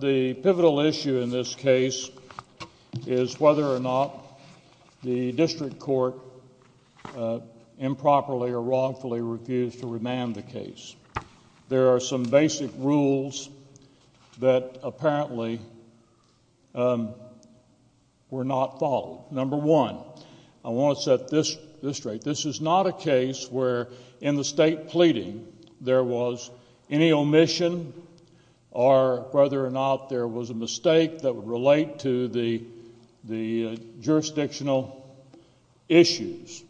The pivotal issue in this case is whether or not the District Court improperly or wrongfully refused to remand the case. There are some basic rules that apparently were not followed. Number one, I want to set this straight. This is not a case where in the state pleading there was any omission or whether or not there was a mistake that would relate to the jurisdictional issues.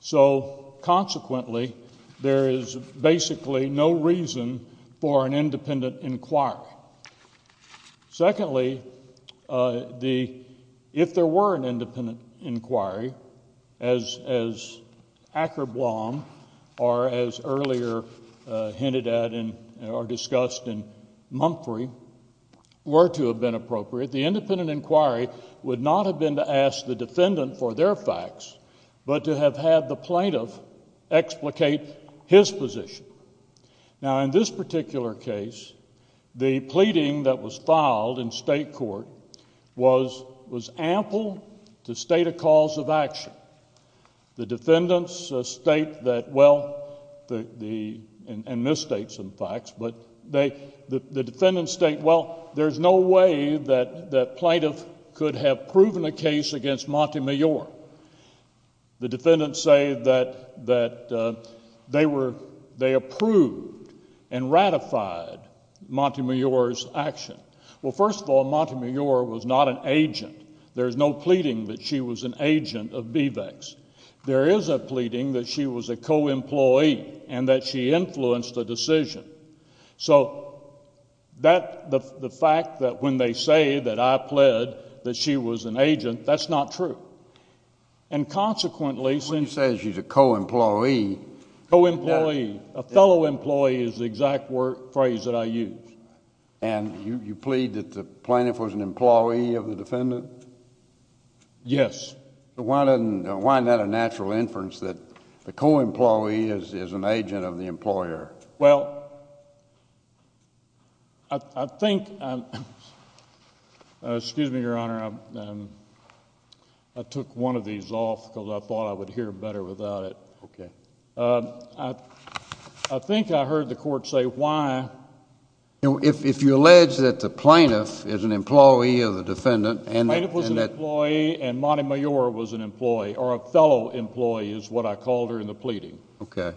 So, consequently, there is basically no reason for an independent inquiry. Secondly, if there were an independent inquiry, as Ackerblom or as earlier hinted at or discussed in Mumphrey were to have been appropriate, the independent inquiry would not have been to ask the defendant for their facts, but to have had the plaintiff explicate his position. Now, in this particular case, the pleading that was filed in state court was ample to state a cause of action. The defendants state that, well, and misstate some facts, but the defendants state, well, there is no way that plaintiff could have proven a case against Montemayor. The defendants say that they approved and ratified Montemayor's action. Well, first of all, Montemayor was not an agent. There is no pleading that she was an agent of BVEC's. There is a pleading that she was a co-employee and that she influenced the decision. So the fact that when they say that I pled that she was an agent, that's not true. And consequently, since— When you say she's a co-employee— Co-employee. A fellow employee is the exact phrase that I use. And you plead that the plaintiff was an employee of the defendant? Yes. Why not a natural inference that the co-employee is an agent of the employer? Well, I think—excuse me, Your Honor, I took one of these off because I thought I would hear better without it. Okay. I think I heard the court say why— If you allege that the plaintiff is an employee of the defendant and that— The plaintiff was an employee and Montemayor was an employee, or a fellow employee is what I called her in the pleading. Okay.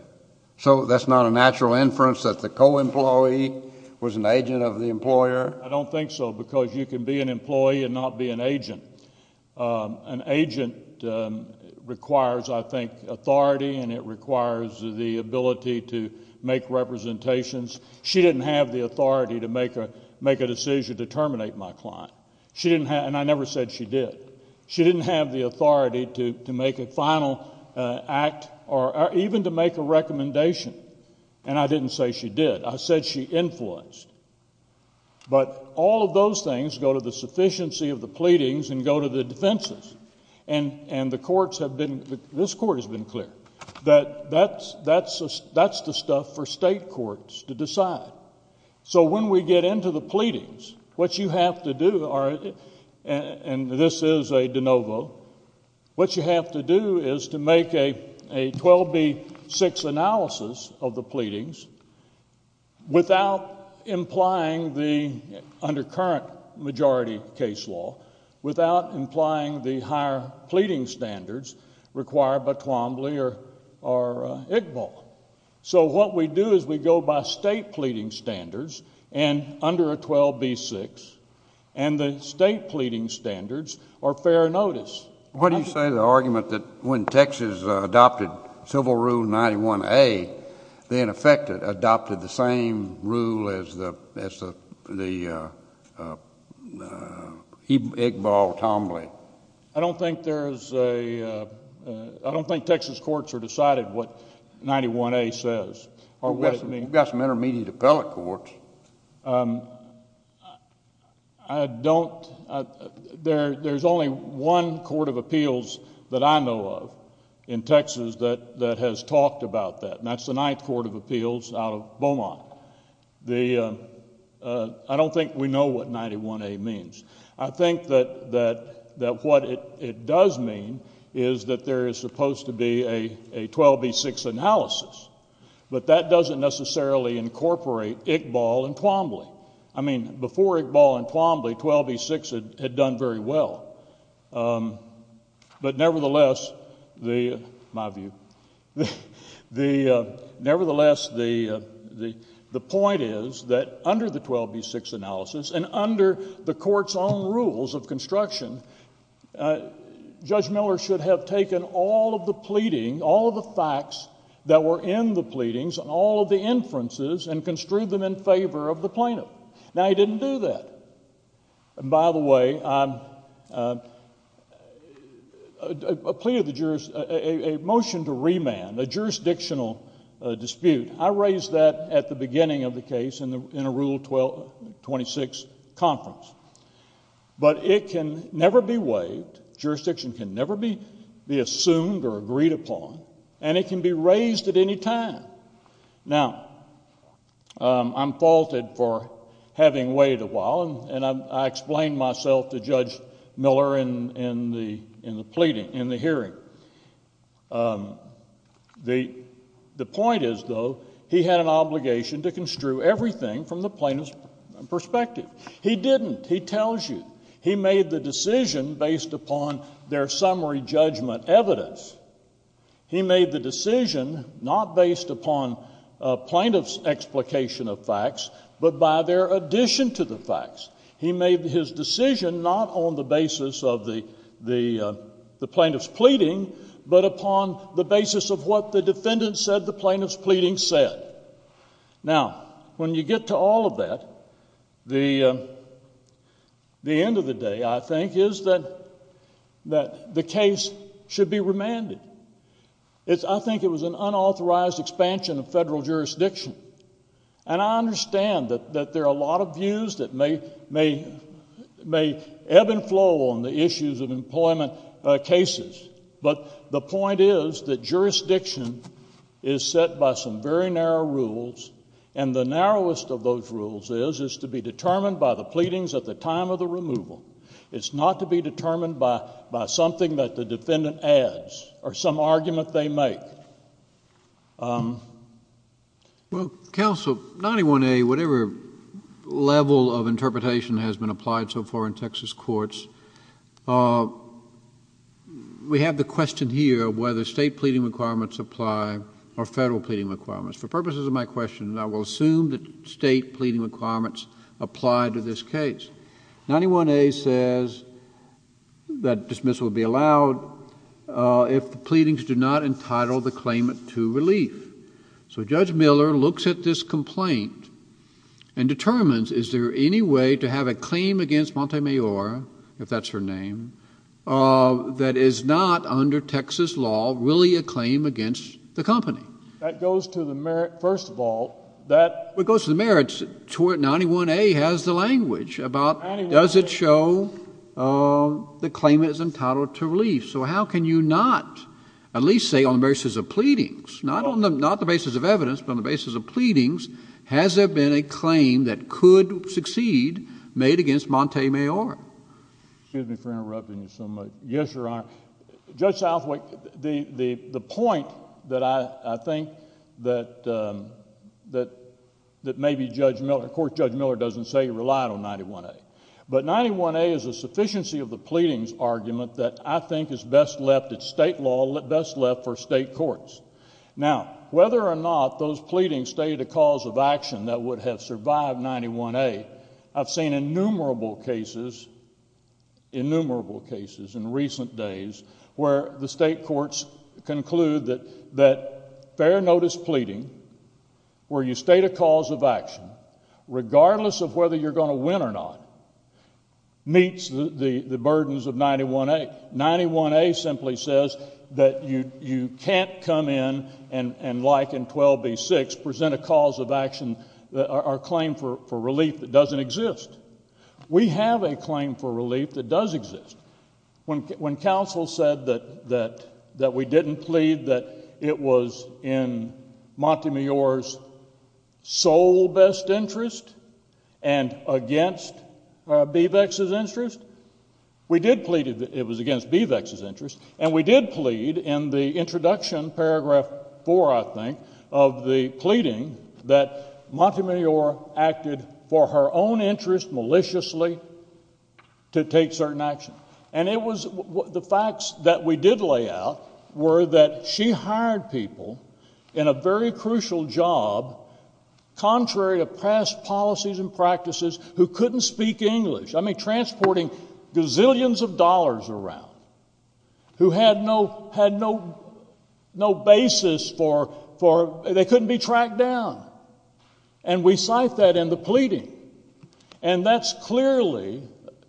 So that's not a natural inference that the co-employee was an agent of the employer? I don't think so because you can be an employee and not be an agent. An agent requires, I think, authority and it requires the ability to make representations. She didn't have the authority to make a decision to terminate my client. She didn't have—and I never said she did. She didn't have the authority to make a final act or even to make a recommendation, and I didn't say she did. I said she influenced. But all of those things go to the sufficiency of the pleadings and go to the defenses. And the courts have been—this court has been clear that that's the stuff for state courts to decide. So when we get into the pleadings, what you have to do—and this is a de novo— what you have to do is to make a 12B6 analysis of the pleadings without implying the— under current majority case law—without implying the higher pleading standards required by Twombly or IGBAL. So what we do is we go by state pleading standards and under a 12B6, and the state pleading standards are fair notice. What do you say to the argument that when Texas adopted Civil Rule 91A, they in effect adopted the same rule as the IGBAL-Tombly? I don't think there is a—I don't think Texas courts are decided what 91A says or what it means. You've got some intermediate appellate courts. I don't—there's only one court of appeals that I know of in Texas that has talked about that, and that's the Ninth Court of Appeals out of Beaumont. I don't think we know what 91A means. I think that what it does mean is that there is supposed to be a 12B6 analysis, but that doesn't necessarily incorporate IGBAL and Twombly. I mean, before IGBAL and Twombly, 12B6 had done very well. Judge Miller should have taken all of the pleading, all of the facts that were in the pleadings, all of the inferences, and construed them in favor of the plaintiff. Now he didn't do that. And by the way, I pleaded the jurors—a motion to remand, a jurisdictional dispute. I raised that at the beginning of the case in a Rule 26 conference. But it can never be waived. Jurisdiction can never be assumed or agreed upon. And it can be raised at any time. Now, I'm faulted for having waited a while, and I explained myself to Judge Miller in the hearing. The point is, though, he had an obligation to construe everything from the plaintiff's perspective. He didn't. He tells you. He made the decision based upon their summary judgment evidence. He made the decision not based upon a plaintiff's explication of facts, but by their addition to the facts. He made his decision not on the basis of the plaintiff's pleading, but upon the basis of what the defendant said the plaintiff's pleading said. Now, when you get to all of that, the end of the day, I think, is that the case should be remanded. I think it was an unauthorized expansion of federal jurisdiction. And I understand that there are a lot of views that may ebb and flow on the issues of employment cases, but the point is that jurisdiction is set by some very narrow rules, and the narrowest of those rules is to be determined by the pleadings at the time of the removal. It's not to be determined by something that the defendant adds or some argument they make. Well, counsel, 91A, whatever level of interpretation has been applied so far in Texas courts, we have the question here of whether state pleading requirements apply or federal pleading requirements. For purposes of my question, I will assume that state pleading requirements apply to this case. 91A says that dismissal would be allowed if the pleadings do not entitle the claimant to relief. So Judge Miller looks at this complaint and determines, is there any way to have a claim against Montemayor, if that's her name, that is not under Texas law really a claim against the company? That goes to the merits, first of all. It goes to the merits. 91A has the language about does it show the claimant is entitled to relief. So how can you not at least say on the basis of pleadings, not on the basis of evidence, but on the basis of pleadings, has there been a claim that could succeed made against Montemayor? Excuse me for interrupting you so much. Yes, Your Honor. Judge Southwick, the point that I think that maybe Judge Miller, of course Judge Miller doesn't say he relied on 91A, but 91A is a sufficiency of the pleadings argument that I think is best left at state law, best left for state courts. Now, whether or not those pleadings stated a cause of action that would have survived 91A, I've seen innumerable cases, innumerable cases in recent days where the state courts conclude that fair notice pleading, where you state a cause of action, regardless of whether you're going to win or not, meets the burdens of 91A. 91A simply says that you can't come in and, like in 12B6, present a cause of action or claim for relief that doesn't exist. We have a claim for relief that does exist. When counsel said that we didn't plead that it was in Montemayor's sole best interest and against Bevex's interest, we did plead it was against Bevex's interest, and we did plead in the introduction, paragraph 4, I think, of the pleading that Montemayor acted for her own interest maliciously to take certain action. And it was the facts that we did lay out were that she hired people in a very crucial job, contrary to past policies and practices, who couldn't speak English. I mean, transporting gazillions of dollars around, who had no basis for, they couldn't be tracked down. And we cite that in the pleading. And that's clearly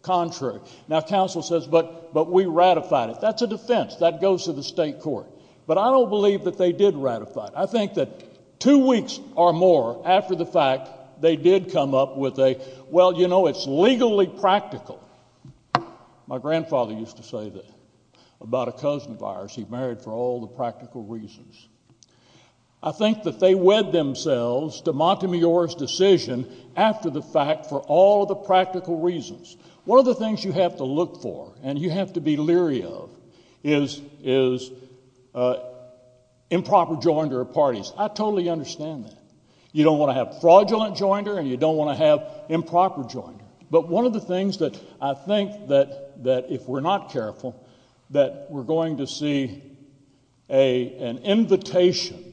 contrary. Now, counsel says, but we ratified it. That's a defense. That goes to the state court. But I don't believe that they did ratify it. I think that two weeks or more after the fact, they did come up with a, well, you know, it's legally practical. My grandfather used to say that about a cousin of ours. He married for all the practical reasons. I think that they wed themselves to Montemayor's decision after the fact for all the practical reasons. One of the things you have to look for and you have to be leery of is improper joinder of parties. I totally understand that. You don't want to have fraudulent joinder and you don't want to have improper joinder. But one of the things that I think that if we're not careful, that we're going to see an invitation,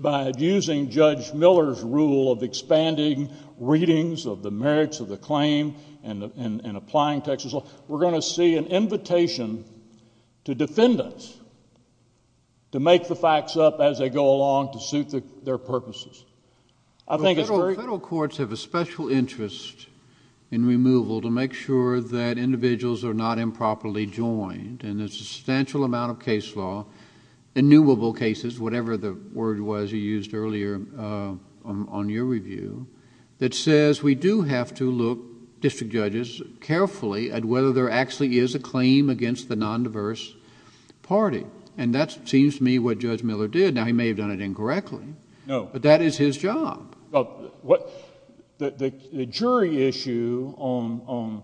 by abusing Judge Miller's rule of expanding readings of the merits of the claim and applying Texas law, we're going to see an invitation to defendants to make the facts up as they go along to suit their purposes. Federal courts have a special interest in removal to make sure that individuals are not improperly joined and there's a substantial amount of case law, innuable cases, whatever the word was you used earlier on your review, that says we do have to look, district judges, carefully at whether there actually is a claim against the non-diverse party. And that seems to me what Judge Miller did. Now, he may have done it incorrectly. No. But that is his job. The jury issue on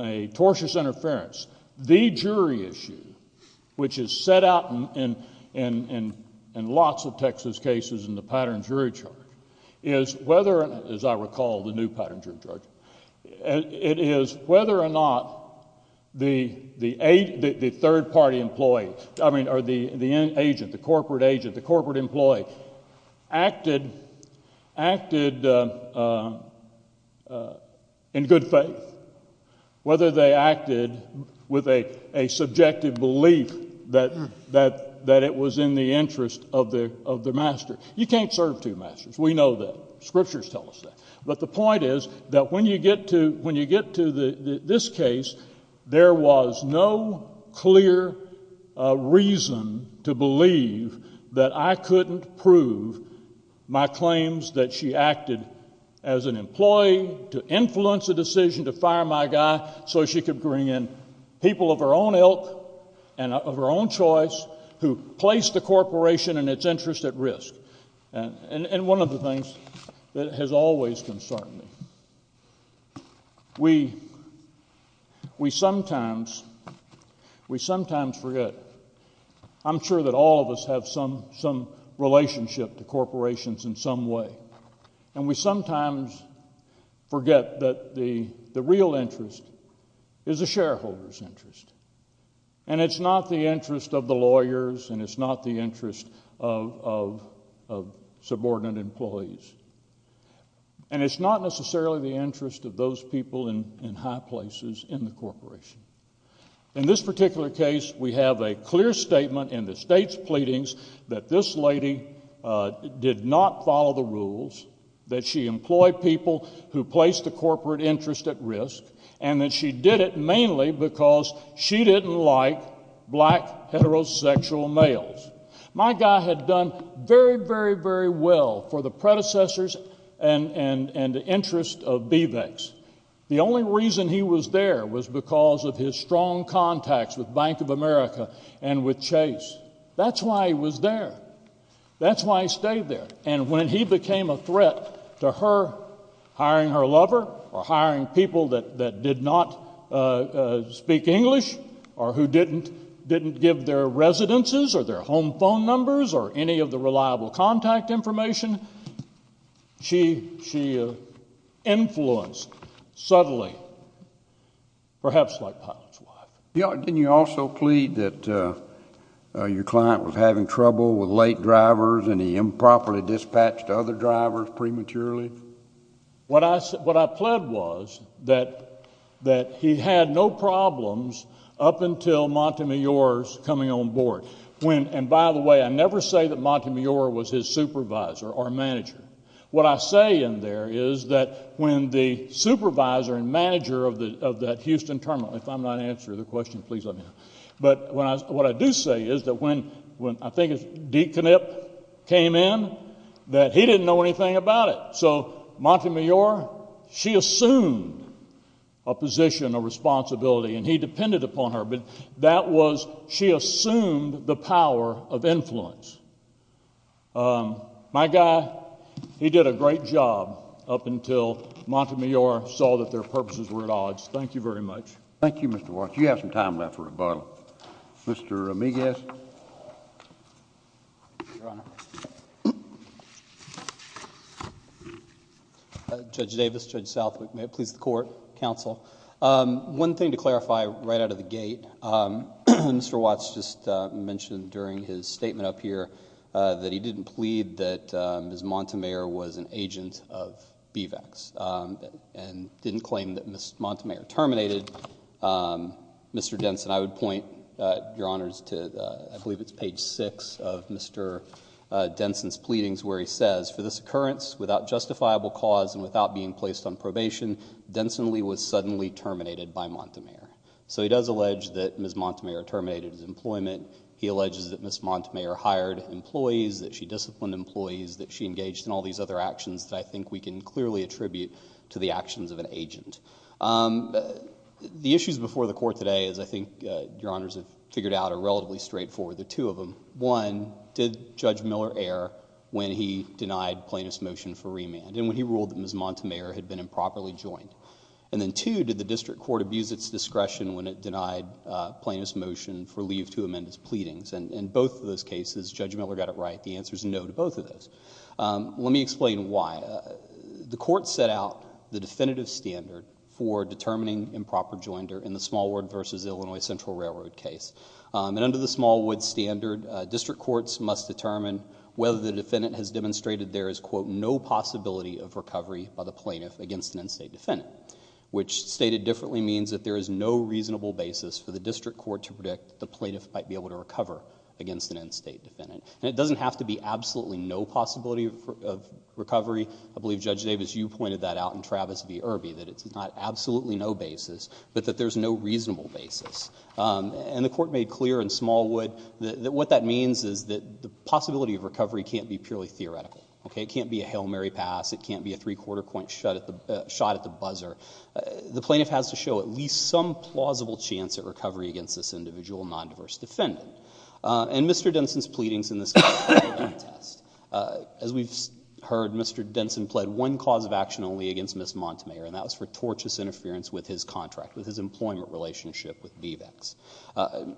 a tortious interference, the jury issue, which is set out in lots of Texas cases in the pattern jury charge, is whether, as I recall, the new pattern jury charge, it is whether or not the third party employee, I mean the agent, the corporate agent, the corporate employee, acted in good faith, whether they acted with a subjective belief that it was in the interest of the master. You can't serve two masters. We know that. Scriptures tell us that. But the point is that when you get to this case, there was no clear reason to believe that I couldn't prove my claims that she acted as an employee to influence a decision to fire my guy so she could bring in people of her own ilk and of her own choice who placed the corporation and its interest at risk. And one of the things that has always concerned me, we sometimes forget. I'm sure that all of us have some relationship to corporations in some way. And we sometimes forget that the real interest is the shareholder's interest. And it's not the interest of the lawyers and it's not the interest of subordinate employees. And it's not necessarily the interest of those people in high places in the corporation. In this particular case, we have a clear statement in the state's pleadings that this lady did not follow the rules, that she employed people who placed the corporate interest at risk, and that she did it mainly because she didn't like black, heterosexual males. My guy had done very, very, very well for the predecessors and the interests of Bevex. The only reason he was there was because of his strong contacts with Bank of America and with Chase. That's why he was there. That's why he stayed there. And when he became a threat to her hiring her lover or hiring people that did not speak English or who didn't give their residences or their home phone numbers or any of the reliable contact information, she influenced subtly, perhaps like Pilate's wife. Didn't you also plead that your client was having trouble with late drivers and he improperly dispatched other drivers prematurely? What I pled was that he had no problems up until Montemayor's coming on board. And by the way, I never say that Montemayor was his supervisor or manager. What I say in there is that when the supervisor and manager of that Houston terminal, if I'm not answering the question, please let me know, but what I do say is that when I think it was Deaconnip came in, that he didn't know anything about it. So Montemayor, she assumed a position, a responsibility, and he depended upon her, but that was she assumed the power of influence. My guy, he did a great job up until Montemayor saw that their purposes were at odds. Thank you very much. Thank you, Mr. Watts. You have some time left for rebuttal. Mr. Miguez. Your Honor. Judge Davis, Judge Southwick, may it please the Court, Counsel. One thing to clarify right out of the gate, Mr. Watts just mentioned during his statement up here that he didn't plead that Ms. Montemayor was an agent of BVACs and didn't claim that Ms. Montemayor terminated Mr. Denson. I would point, Your Honors, to I believe it's page six of Mr. Denson's pleadings where he says, for this occurrence, without justifiable cause and without being placed on probation, Densonly was suddenly terminated by Montemayor. So he does allege that Ms. Montemayor terminated his employment. He alleges that Ms. Montemayor hired employees, that she disciplined employees, that she engaged in all these other actions that I think we can clearly attribute to the actions of an agent. The issues before the Court today, as I think Your Honors have figured out, are relatively straightforward. There are two of them. One, did Judge Miller err when he denied plaintiff's motion for remand and when he ruled that Ms. Montemayor had been improperly joined? And then two, did the District Court abuse its discretion when it denied plaintiff's motion for leave to amend his pleadings? And in both of those cases, Judge Miller got it right. The answer is no to both of those. Let me explain why. The Court set out the definitive standard for determining improper joinder in the Smallwood v. Illinois Central Railroad case. And under the Smallwood standard, District Courts must determine whether the defendant has demonstrated there is, quote, no possibility of recovery by the plaintiff against an in-state defendant, which stated differently means that there is no reasonable basis for the District Court to predict the plaintiff might be able to recover against an in-state defendant. And it doesn't have to be absolutely no possibility of recovery. I believe, Judge Davis, you pointed that out in Travis v. Irby, that it's not absolutely no basis, but that there's no reasonable basis. And the Court made clear in Smallwood that what that means is that the possibility of recovery can't be purely theoretical. Okay? It can't be a Hail Mary pass. It can't be a three-quarter point shot at the buzzer. The plaintiff has to show at least some plausible chance at recovery against this individual non-diverse defendant. And Mr. Denson's pleadings in this case were a contest. As we've heard, Mr. Denson pled one cause of action only against Ms. Montemayor, and that was for tortious interference with his contract, with his employment relationship with BBEX.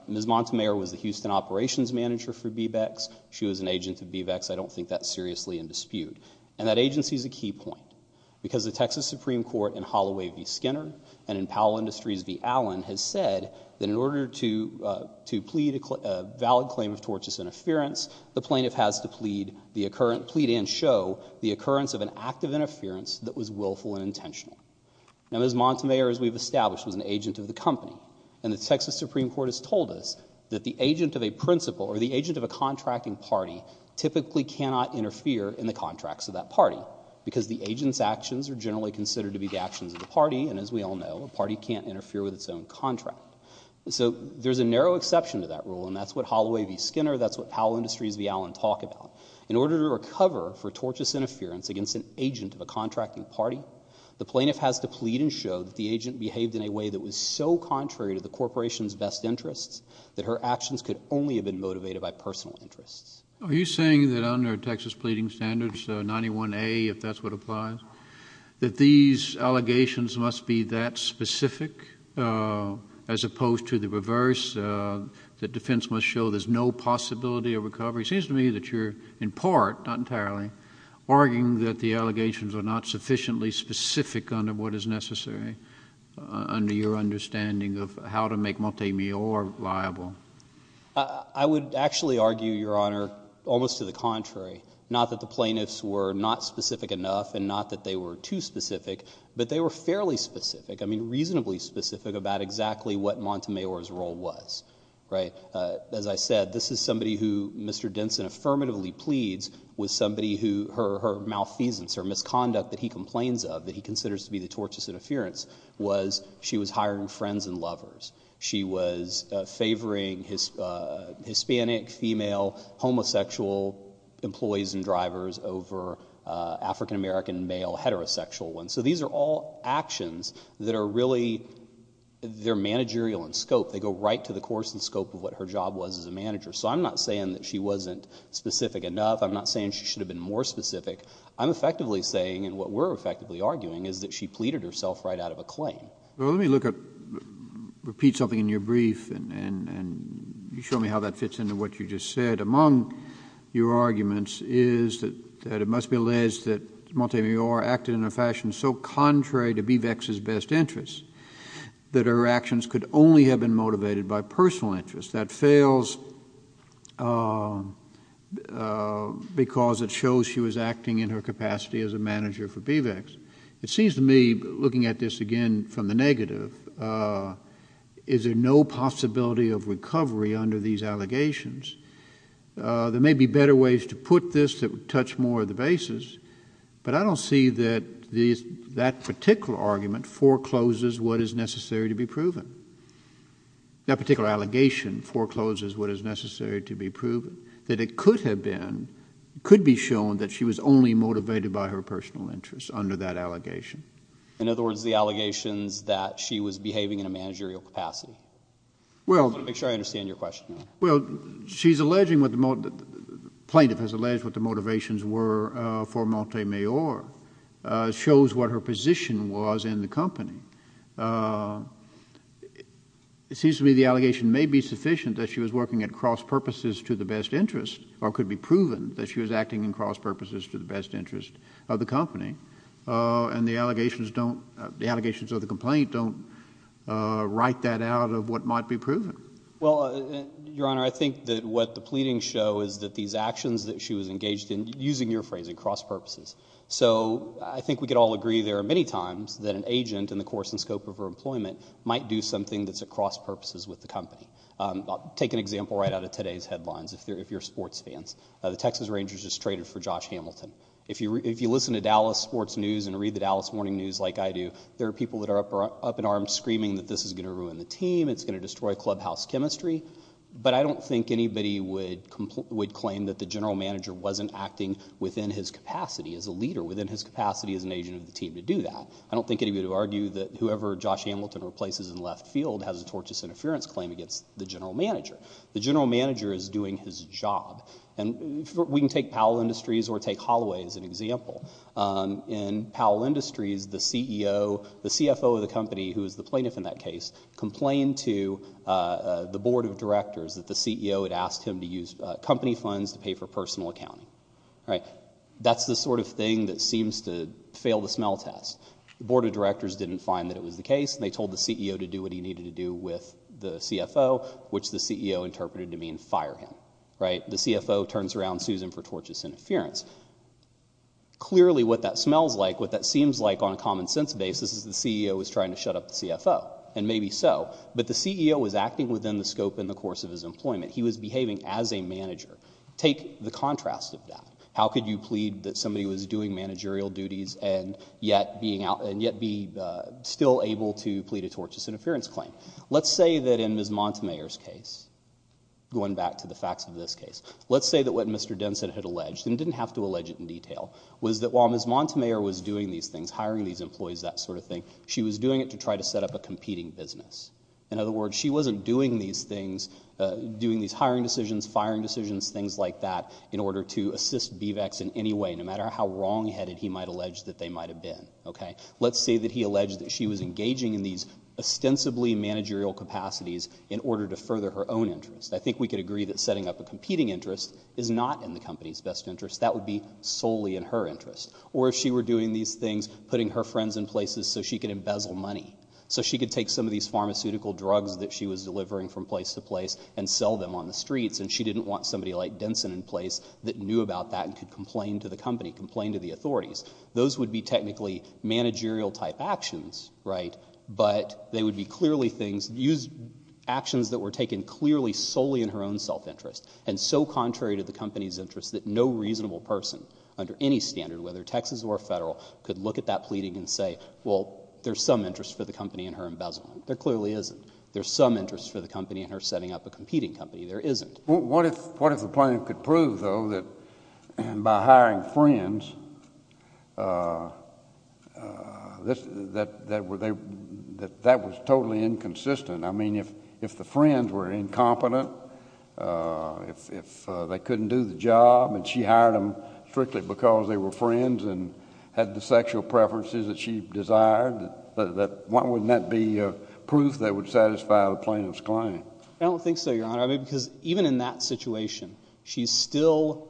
Ms. Montemayor was the Houston operations manager for BBEX. She was an agent of BBEX. I don't think that's seriously in dispute. And that agency is a key point because the Texas Supreme Court in Holloway v. Skinner and in Powell Industries v. Allen has said that in order to plead a valid claim of tortious interference, the plaintiff has to plead and show the occurrence of an act of interference that was willful and intentional. Now, Ms. Montemayor, as we've established, was an agent of the company, and the Texas Supreme Court has told us that the agent of a principal or the agent of a contracting party typically cannot interfere in the contracts of that party because the agent's actions are generally considered to be the actions of the party, and as we all know, a party can't interfere with its own contract. So there's a narrow exception to that rule, and that's what Holloway v. Skinner, that's what Powell Industries v. Allen talk about. In order to recover for tortious interference against an agent of a contracting party, the plaintiff has to plead and show that the agent behaved in a way that was so contrary to the corporation's best interests that her actions could only have been motivated by personal interests. Are you saying that under Texas Pleading Standards 91A, if that's what applies, that these allegations must be that specific as opposed to the reverse, that defense must show there's no possibility of recovery? It seems to me that you're in part, not entirely, arguing that the allegations are not sufficiently specific under what is necessary under your understanding of how to make Montemayor liable. I would actually argue, Your Honor, almost to the contrary, not that the plaintiffs were not specific enough and not that they were too specific, but they were fairly specific, I mean reasonably specific, about exactly what Montemayor's role was. As I said, this is somebody who Mr. Denson affirmatively pleads was somebody who, her malfeasance or misconduct that he complains of, that he considers to be the tortious interference, was she was hiring friends and lovers. She was favoring Hispanic, female, homosexual employees and drivers over African-American, male, heterosexual ones. So these are all actions that are really, they're managerial in scope. They go right to the course and scope of what her job was as a manager. So I'm not saying that she wasn't specific enough. I'm not saying she should have been more specific. I'm effectively saying, and what we're effectively arguing, is that she pleaded herself right out of a claim. Well, let me repeat something in your brief, and you show me how that fits into what you just said. Among your arguments is that it must be alleged that Montemayor acted in a fashion so contrary to Bevex's best interests that her actions could only have been motivated by personal interests. That fails because it shows she was acting in her capacity as a manager for Bevex. It seems to me, looking at this again from the negative, is there no possibility of recovery under these allegations? There may be better ways to put this that would touch more of the basis, but I don't see that that particular argument forecloses what is necessary to be proven. That particular allegation forecloses what is necessary to be proven. That it could have been, could be shown, that she was only motivated by her personal interests under that allegation. In other words, the allegations that she was behaving in a managerial capacity. Make sure I understand your question. Well, plaintiff has alleged what the motivations were for Montemayor. It shows what her position was in the company. It seems to me the allegation may be sufficient that she was working at cross-purposes to the best interest, or could be proven that she was acting in cross-purposes to the best interest of the company. And the allegations don't, the allegations of the complaint don't write that out of what might be proven. Well, Your Honor, I think that what the pleadings show is that these actions that she was engaged in, using your phrasing, cross-purposes. So I think we could all agree there are many times that an agent in the course and scope of her employment might do something that's at cross-purposes with the company. I'll take an example right out of today's headlines if you're sports fans. The Texas Rangers just traded for Josh Hamilton. If you listen to Dallas sports news and read the Dallas Morning News like I do, there are people that are up in arms screaming that this is going to ruin the team, it's going to destroy clubhouse chemistry. But I don't think anybody would claim that the general manager wasn't acting within his capacity as a leader, within his capacity as an agent of the team to do that. I don't think anybody would argue that whoever Josh Hamilton replaces in left field has a tortious interference claim against the general manager. The general manager is doing his job. And we can take Powell Industries or take Holloway as an example. In Powell Industries, the CEO, the CFO of the company, who is the plaintiff in that case, complained to the board of directors that the CEO had asked him to use company funds to pay for personal accounting. That's the sort of thing that seems to fail the smell test. The board of directors didn't find that it was the case, and they told the CEO to do what he needed to do with the CFO, which the CEO interpreted to mean fire him. The CFO turns around and sues him for tortious interference. Clearly what that smells like, what that seems like on a common sense basis, is the CEO is trying to shut up the CFO, and maybe so. But the CEO was acting within the scope in the course of his employment. He was behaving as a manager. Take the contrast of that. How could you plead that somebody was doing managerial duties and yet be still able to plead a tortious interference claim? Let's say that in Ms. Montemayor's case, going back to the facts of this case, let's say that what Mr. Denson had alleged, and he didn't have to allege it in detail, was that while Ms. Montemayor was doing these things, hiring these employees, that sort of thing, she was doing it to try to set up a competing business. In other words, she wasn't doing these hiring decisions, firing decisions, things like that, in order to assist BVECs in any way, no matter how wrongheaded he might allege that they might have been. Let's say that he alleged that she was engaging in these ostensibly managerial capacities in order to further her own interests. I think we could agree that setting up a competing interest is not in the company's best interest. That would be solely in her interest. Or if she were doing these things, putting her friends in places so she could embezzle money, so she could take some of these pharmaceutical drugs that she was delivering from place to place and sell them on the streets, and she didn't want somebody like Denson in place that knew about that and could complain to the company, complain to the authorities. Those would be technically managerial-type actions, right? But they would be clearly things, actions that were taken clearly solely in her own self-interest and so contrary to the company's interests that no reasonable person under any standard, whether Texas or federal, could look at that pleading and say, well, there's some interest for the company in her embezzlement. There clearly isn't. There's some interest for the company in her setting up a competing company. There isn't. What if the plaintiff could prove, though, that by hiring friends that that was totally inconsistent? I mean, if the friends were incompetent, if they couldn't do the job, and she hired them strictly because they were friends and had the sexual preferences that she desired, wouldn't that be proof that would satisfy the plaintiff's claim? I don't think so, Your Honor. I mean, because even in that situation, she's still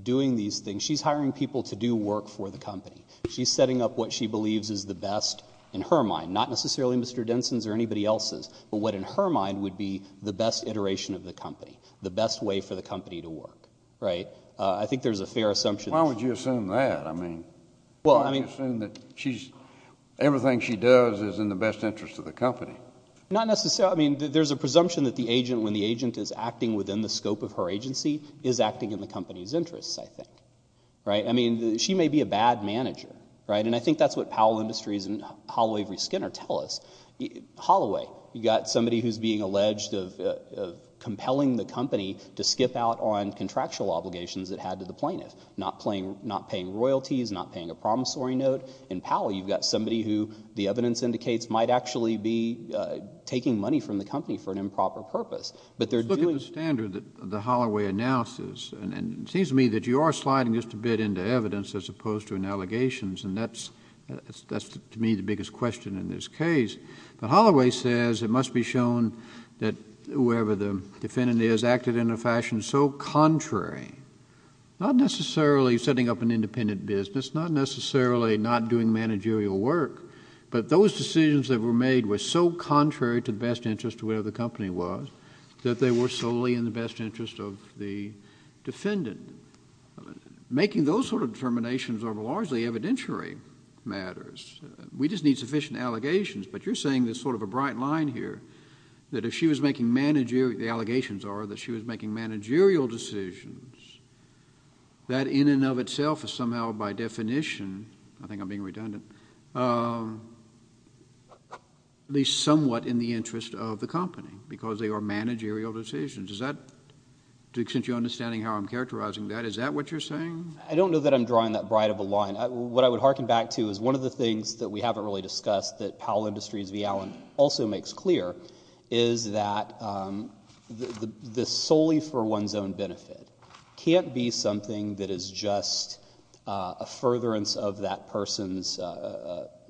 doing these things. She's hiring people to do work for the company. She's setting up what she believes is the best in her mind, not necessarily Mr. Denson's or anybody else's, but what in her mind would be the best iteration of the company, the best way for the company to work, right? I think there's a fair assumption. Why would you assume that? I mean, why would you assume that everything she does is in the best interest of the company? Not necessarily. I mean, there's a presumption that the agent, when the agent is acting within the scope of her agency, is acting in the company's interests, I think, right? I mean, she may be a bad manager, right? And I think that's what Powell Industries and Holloway v. Skinner tell us. Holloway, you've got somebody who's being alleged of compelling the company to skip out on contractual obligations it had to the plaintiff, not paying royalties, not paying a promissory note. In Powell, you've got somebody who, the evidence indicates, might actually be taking money from the company for an improper purpose. Just look at the standard that Holloway announces, and it seems to me that you are sliding just a bit into evidence as opposed to in allegations, and that's to me the biggest question in this case. But Holloway says it must be shown that whoever the defendant is acted in a fashion so contrary, not necessarily setting up an independent business, not necessarily not doing managerial work, but those decisions that were made were so contrary to the best interest of whatever the company was that they were solely in the best interest of the defendant. Making those sort of determinations are largely evidentiary matters. We just need sufficient allegations, but you're saying there's sort of a bright line here, that if she was making managerial decisions, that in and of itself is somehow by definition, I think I'm being redundant, at least somewhat in the interest of the company because they are managerial decisions. Is that, to the extent you're understanding how I'm characterizing that, is that what you're saying? I don't know that I'm drawing that bright of a line. What I would hearken back to is one of the things that we haven't really discussed that Powell Industries v. Allen also makes clear is that this solely for one's own benefit can't be something that is just a furtherance of that person's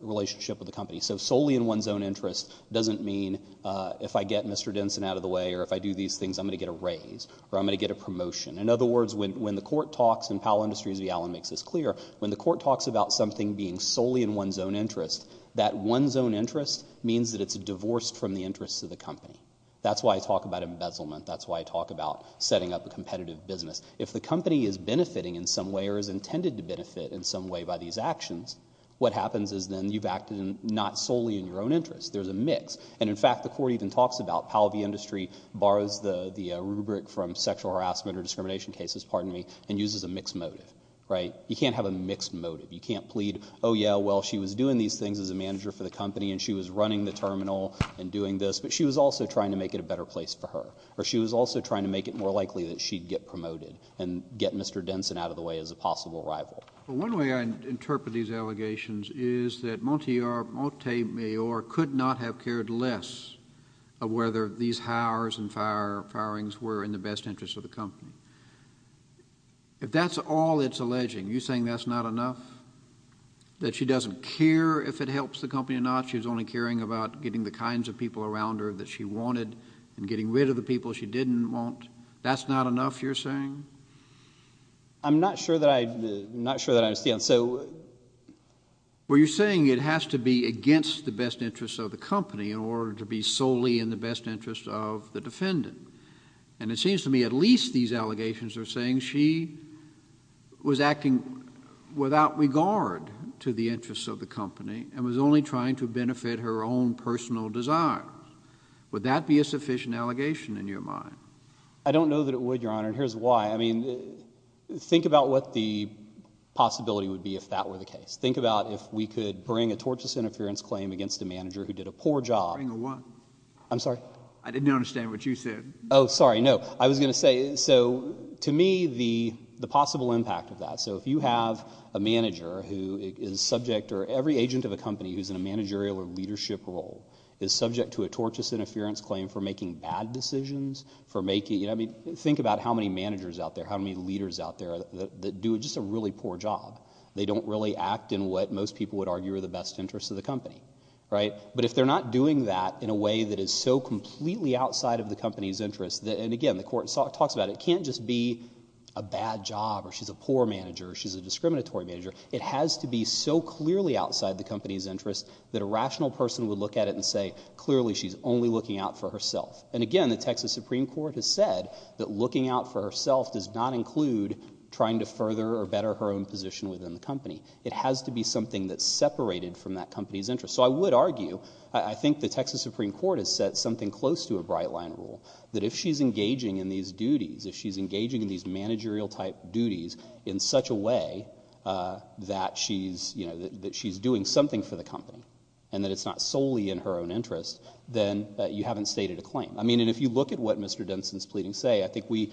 relationship with the company. So solely in one's own interest doesn't mean if I get Mr. Denson out of the way or if I do these things I'm going to get a raise or I'm going to get a promotion. In other words, when the court talks, and Powell Industries v. Allen makes this clear, when the court talks about something being solely in one's own interest, that one's own interest means that it's divorced from the interests of the company. That's why I talk about embezzlement. That's why I talk about setting up a competitive business. If the company is benefiting in some way or is intended to benefit in some way by these actions, what happens is then you've acted not solely in your own interest. There's a mix, and in fact the court even talks about, Powell v. Industry borrows the rubric from sexual harassment or discrimination cases, pardon me, and uses a mixed motive. Right? You can't have a mixed motive. You can't plead, oh, yeah, well, she was doing these things as a manager for the company and she was running the terminal and doing this, but she was also trying to make it a better place for her or she was also trying to make it more likely that she'd get promoted and get Mr. Denson out of the way as a possible rival. One way I interpret these allegations is that Monte Mayor could not have cared less of whether these hours and firings were in the best interest of the company. If that's all it's alleging, you're saying that's not enough? That she doesn't care if it helps the company or not? She's only caring about getting the kinds of people around her that she wanted and getting rid of the people she didn't want? That's not enough, you're saying? I'm not sure that I understand. Well, you're saying it has to be against the best interest of the company in order to be solely in the best interest of the defendant, and it seems to me at least these allegations are saying she was acting without regard to the interests of the company and was only trying to benefit her own personal desires. Would that be a sufficient allegation in your mind? I don't know that it would, Your Honor, and here's why. I mean, think about what the possibility would be if that were the case. Think about if we could bring a tortious interference claim against a manager who did a poor job. Bring a what? I'm sorry? I didn't understand what you said. Oh, sorry, no. I was going to say, so to me, the possible impact of that, so if you have a manager who is subject or every agent of a company who's in a managerial or leadership role is subject to a tortious interference claim for making bad decisions, for making, you know, I mean, think about how many managers out there, how many leaders out there that do just a really poor job. They don't really act in what most people would argue are the best interests of the company. Right? But if they're not doing that in a way that is so completely outside of the company's interests, and again, the court talks about it, it can't just be a bad job or she's a poor manager or she's a discriminatory manager. It has to be so clearly outside the company's interests that a rational person would look at it and say clearly she's only looking out for herself. And again, the Texas Supreme Court has said that looking out for herself does not include trying to further or better her own position within the company. It has to be something that's separated from that company's interests. So I would argue, I think the Texas Supreme Court has set something close to a bright line rule that if she's engaging in these duties, if she's engaging in these managerial type duties in such a way that she's, you know, that she's doing something for the company and that it's not solely in her own interest, then you haven't stated a claim. I mean, and if you look at what Mr. Denson's pleadings say, I think we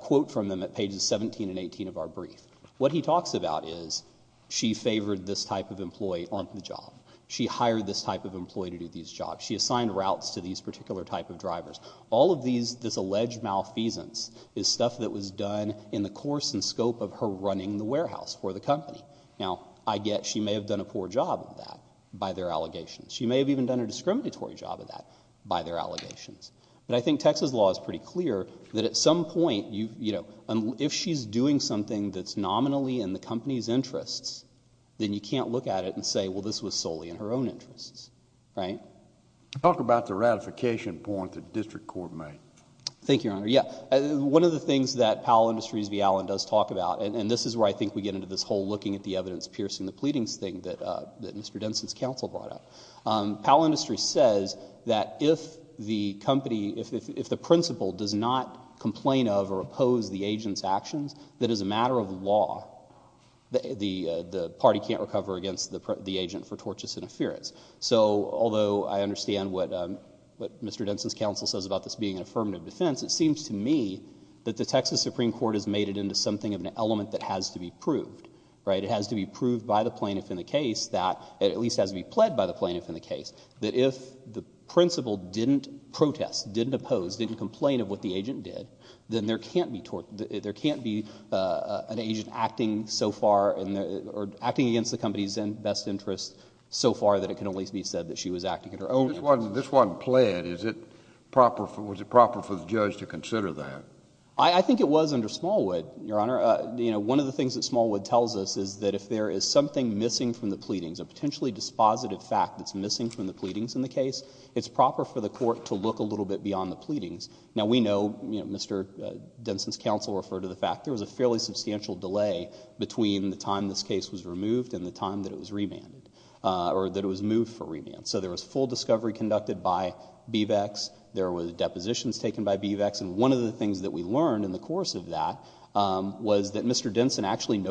quote from them at pages 17 and 18 of our brief. What he talks about is she favored this type of employee on the job. She hired this type of employee to do these jobs. She assigned routes to these particular type of drivers. All of these, this alleged malfeasance is stuff that was done in the course and scope of her running the warehouse for the company. Now, I get she may have done a poor job of that by their allegations. She may have even done a discriminatory job of that by their allegations. But I think Texas law is pretty clear that at some point, you know, if she's doing something that's nominally in the company's interests, then you can't look at it and say, well, this was solely in her own interests. Right? Talk about the ratification point the district court made. Thank you, Your Honor. Yeah. One of the things that Powell Industries v. Allen does talk about, and this is where I think we get into this whole looking at the evidence, piercing the pleadings thing that Mr. Denson's counsel brought up. Powell Industries says that if the company, if the principal does not complain of or oppose the agent's actions, that as a matter of law, the party can't recover against the agent for tortious interference. So although I understand what Mr. Denson's counsel says about this being an affirmative defense, it seems to me that the Texas Supreme Court has made it into something of an element that has to be proved. Right? It has to be proved by the plaintiff in the case that, at least has to be pled by the plaintiff in the case, that if the principal didn't protest, didn't oppose, didn't complain of what the agent did, then there can't be an agent acting so far, or acting against the company's best interest so far that it can at least be said that she was acting in her own interest. This wasn't pled. Was it proper for the judge to consider that? I think it was under Smallwood, Your Honor. One of the things that Smallwood tells us is that if there is something missing from the pleadings, a potentially dispositive fact that's missing from the pleadings in the case, it's proper for the court to look a little bit beyond the pleadings. Now, we know Mr. Denson's counsel referred to the fact there was a fairly substantial delay between the time this case was removed and the time that it was remanded, or that it was moved for remand. So there was full discovery conducted by BVEX. There were depositions taken by BVEX. And one of the things that we learned in the course of that was that Mr. Denson stated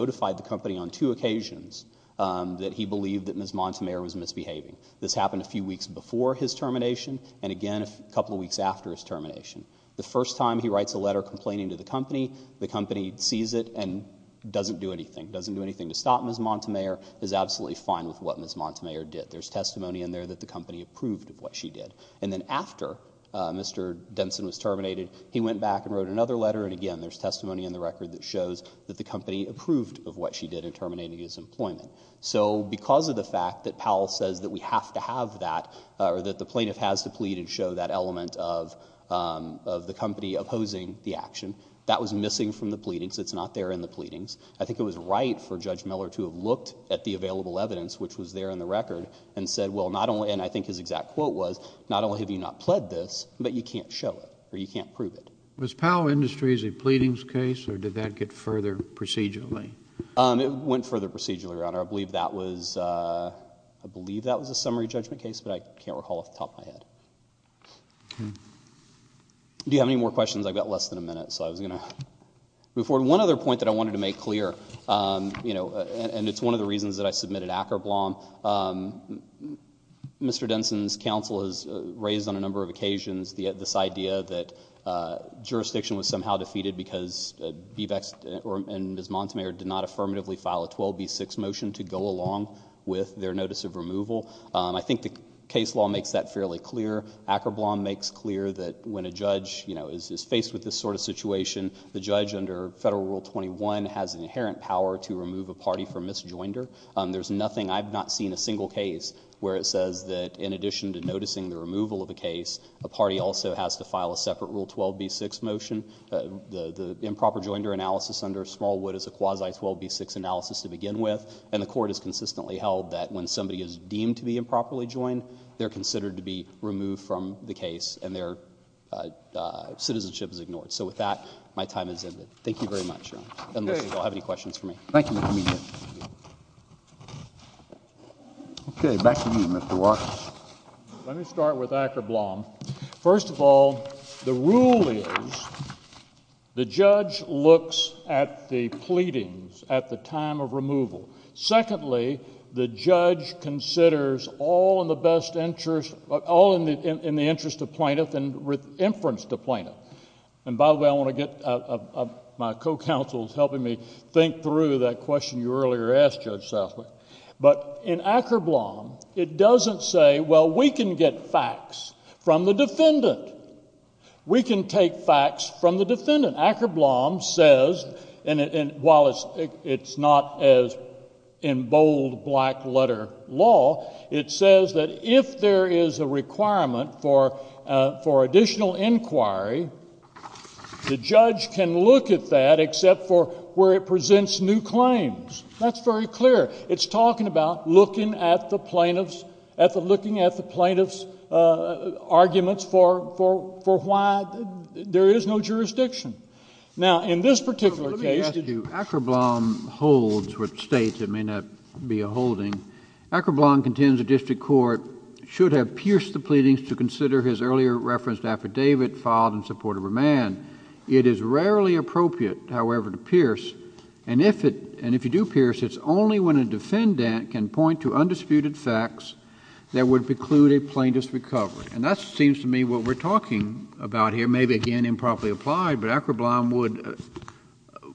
that Ms. Montemayor was misbehaving. This happened a few weeks before his termination and, again, a couple of weeks after his termination. The first time he writes a letter complaining to the company, the company sees it and doesn't do anything, doesn't do anything to stop Ms. Montemayor, is absolutely fine with what Ms. Montemayor did. There's testimony in there that the company approved of what she did. And then after Mr. Denson was terminated, he went back and wrote another letter, and, again, there's testimony in the record that shows that the company approved of what she did in terminating his employment. So because of the fact that Powell says that we have to have that, or that the plaintiff has to plead and show that element of the company opposing the action, that was missing from the pleadings. It's not there in the pleadings. I think it was right for Judge Miller to have looked at the available evidence, which was there in the record, and said, well, not only, and I think his exact quote was, not only have you not pled this, but you can't show it, or you can't prove it. Was Powell Industries a pleadings case, or did that get further procedurally? It went further procedurally, Your Honor. I believe that was a summary judgment case, but I can't recall off the top of my head. Do you have any more questions? I've got less than a minute, so I was going to move forward. One other point that I wanted to make clear, and it's one of the reasons that I submitted Ackerblom, Mr. Denson's counsel has raised on a number of occasions this idea that jurisdiction was somehow defeated because Bevex and Ms. Montemayor did not affirmatively file a 12B6 motion to go along with their notice of removal. I think the case law makes that fairly clear. Ackerblom makes clear that when a judge is faced with this sort of situation, the judge under Federal Rule 21 has an inherent power to remove a party from misjoinder. There's nothing, I've not seen a single case where it says that in addition to noticing the removal of a case, a party also has to file a separate Rule 12B6 motion. The improper joinder analysis under Smallwood is a quasi-12B6 analysis to begin with, and the Court has consistently held that when somebody is deemed to be improperly joined, they're considered to be removed from the case and their citizenship is ignored. So with that, my time has ended. Thank you very much, Your Honor. Unless you all have any questions for me. Thank you, Mr. Medina. Okay, back to you, Mr. Walker. Let me start with Ackerblom. First of all, the rule is the judge looks at the pleadings at the time of removal. Secondly, the judge considers all in the best interest, all in the interest of plaintiff and inference to plaintiff. And by the way, I want to get, my co-counsel is helping me think through that question you earlier asked, Judge Southwick. But in Ackerblom, it doesn't say, well, we can get facts from the defendant. We can take facts from the defendant. Ackerblom says, and while it's not as in bold black letter law, it says that if there is a requirement for additional inquiry, the judge can look at that except for where it presents new claims. That's very clear. It's talking about looking at the plaintiff's, looking at the plaintiff's arguments for why there is no jurisdiction. Now, in this particular case. Let me ask you, Ackerblom holds what states it may not be a holding. Ackerblom contends the district court should have pierced the pleadings to consider his earlier referenced affidavit filed in support of a man. It is rarely appropriate, however, to pierce. And if you do pierce, it's only when a defendant can point to undisputed facts that would preclude a plaintiff's recovery. And that seems to me what we're talking about here, maybe again improperly applied, but Ackerblom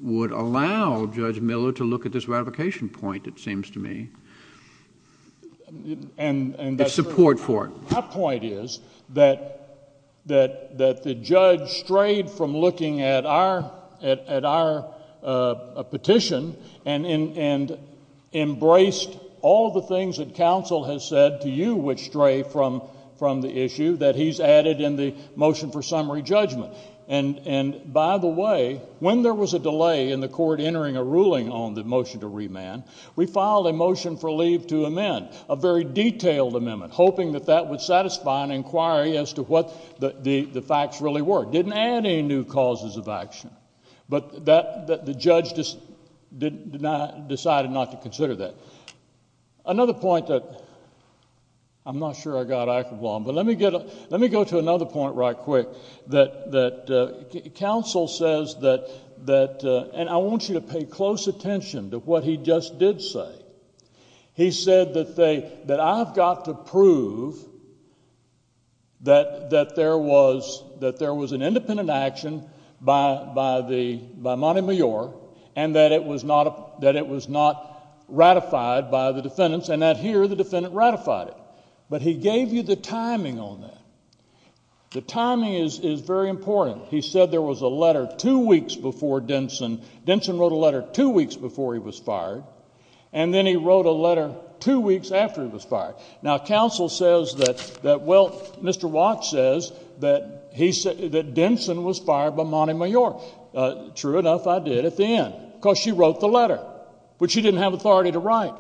would allow Judge Miller to look at this ratification point, it seems to me, in support for it. My point is that the judge strayed from looking at our petition and embraced all the things that counsel has said to you would stray from the issue that he's added in the motion for summary judgment. And by the way, when there was a delay in the court entering a ruling on the motion to remand, we filed a motion for leave to amend, a very detailed amendment, hoping that that would satisfy an inquiry as to what the facts really were. It didn't add any new causes of action. But the judge decided not to consider that. Another point that I'm not sure I got, Ackerblom, but let me go to another point right quick that counsel says that, and I want you to pay close attention to what he just did say. He said that I've got to prove that there was an independent action by Montemayor and that it was not ratified by the defendants and that here the defendant ratified it. But he gave you the timing on that. The timing is very important. He said there was a letter two weeks before Denson. Denson wrote a letter two weeks before he was fired, and then he wrote a letter two weeks after he was fired. Now, counsel says that, well, Mr. Watts says that Denson was fired by Montemayor. True enough, I did at the end because she wrote the letter, which she didn't have authority to write.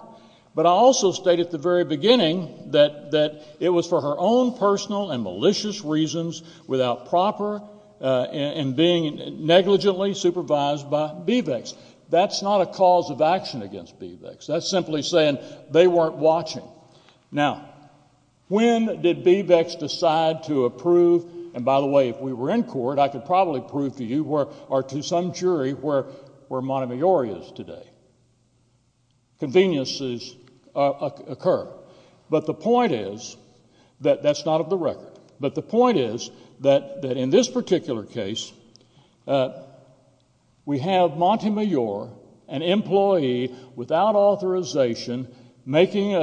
But I also state at the very beginning that it was for her own personal and malicious reasons without proper and being negligently supervised by BVECs. That's not a cause of action against BVECs. That's simply saying they weren't watching. Now, when did BVECs decide to approve? And by the way, if we were in court, I could probably prove to you or to some jury where Montemayor is today. Conveniences occur. But the point is that that's not of the record. But the point is that in this particular case, we have Montemayor, an employee without authorization, writing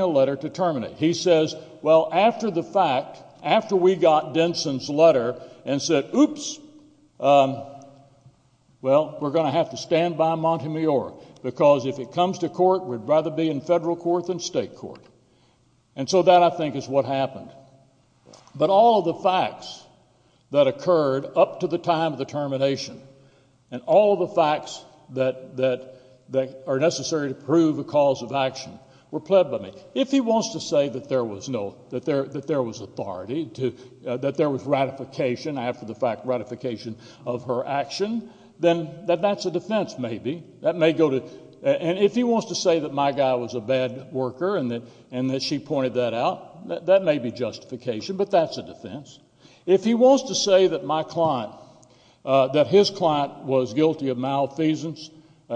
a letter to terminate. He says, well, after the fact, after we got Denson's letter and said, oops, well, we're going to have to stand by Montemayor because if it comes to court, we'd rather be in federal court than state court. And so that, I think, is what happened. But all of the facts that occurred up to the time of the termination and all of the facts that are necessary to prove a cause of action were pled by me. If he wants to say that there was authority, that there was ratification after the fact, ratification of her action, then that's a defense maybe. And if he wants to say that my guy was a bad worker and that she pointed that out, that may be justification, but that's a defense. If he wants to say that his client was guilty of malfeasance,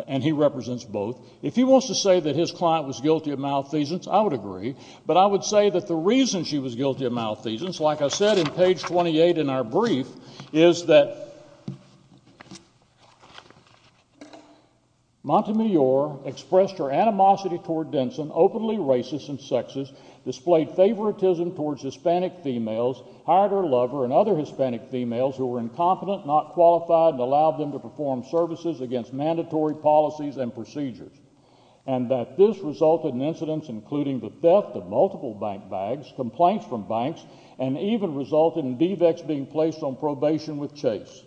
and he represents both, if he wants to say that his client was guilty of malfeasance, I would agree. But I would say that the reason she was guilty of malfeasance, like I said in page 28 in our brief, is that Montemayor expressed her animosity toward Denson, openly racist and sexist, displayed favoritism towards Hispanic females, hired her lover and other Hispanic females who were incompetent, not qualified, and allowed them to perform services against mandatory policies and procedures, and that this resulted in incidents including the theft of multiple bank bags, complaints from banks, and even resulted in DVECs being placed on probation with Chase.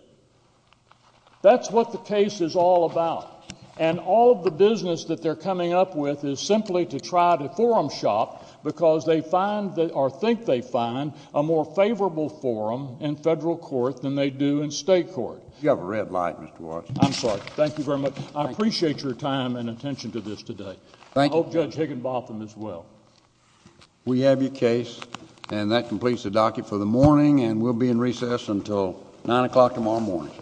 That's what the case is all about. And all of the business that they're coming up with is simply to try to forum shop because they find or think they find a more favorable forum in federal court than they do in state court. You have a red light, Mr. Washington. I'm sorry. Thank you very much. I appreciate your time and attention to this today. I hope Judge Higginbotham as well. We have your case, and that completes the docket for the morning, and we'll be in recess until 9 o'clock tomorrow morning.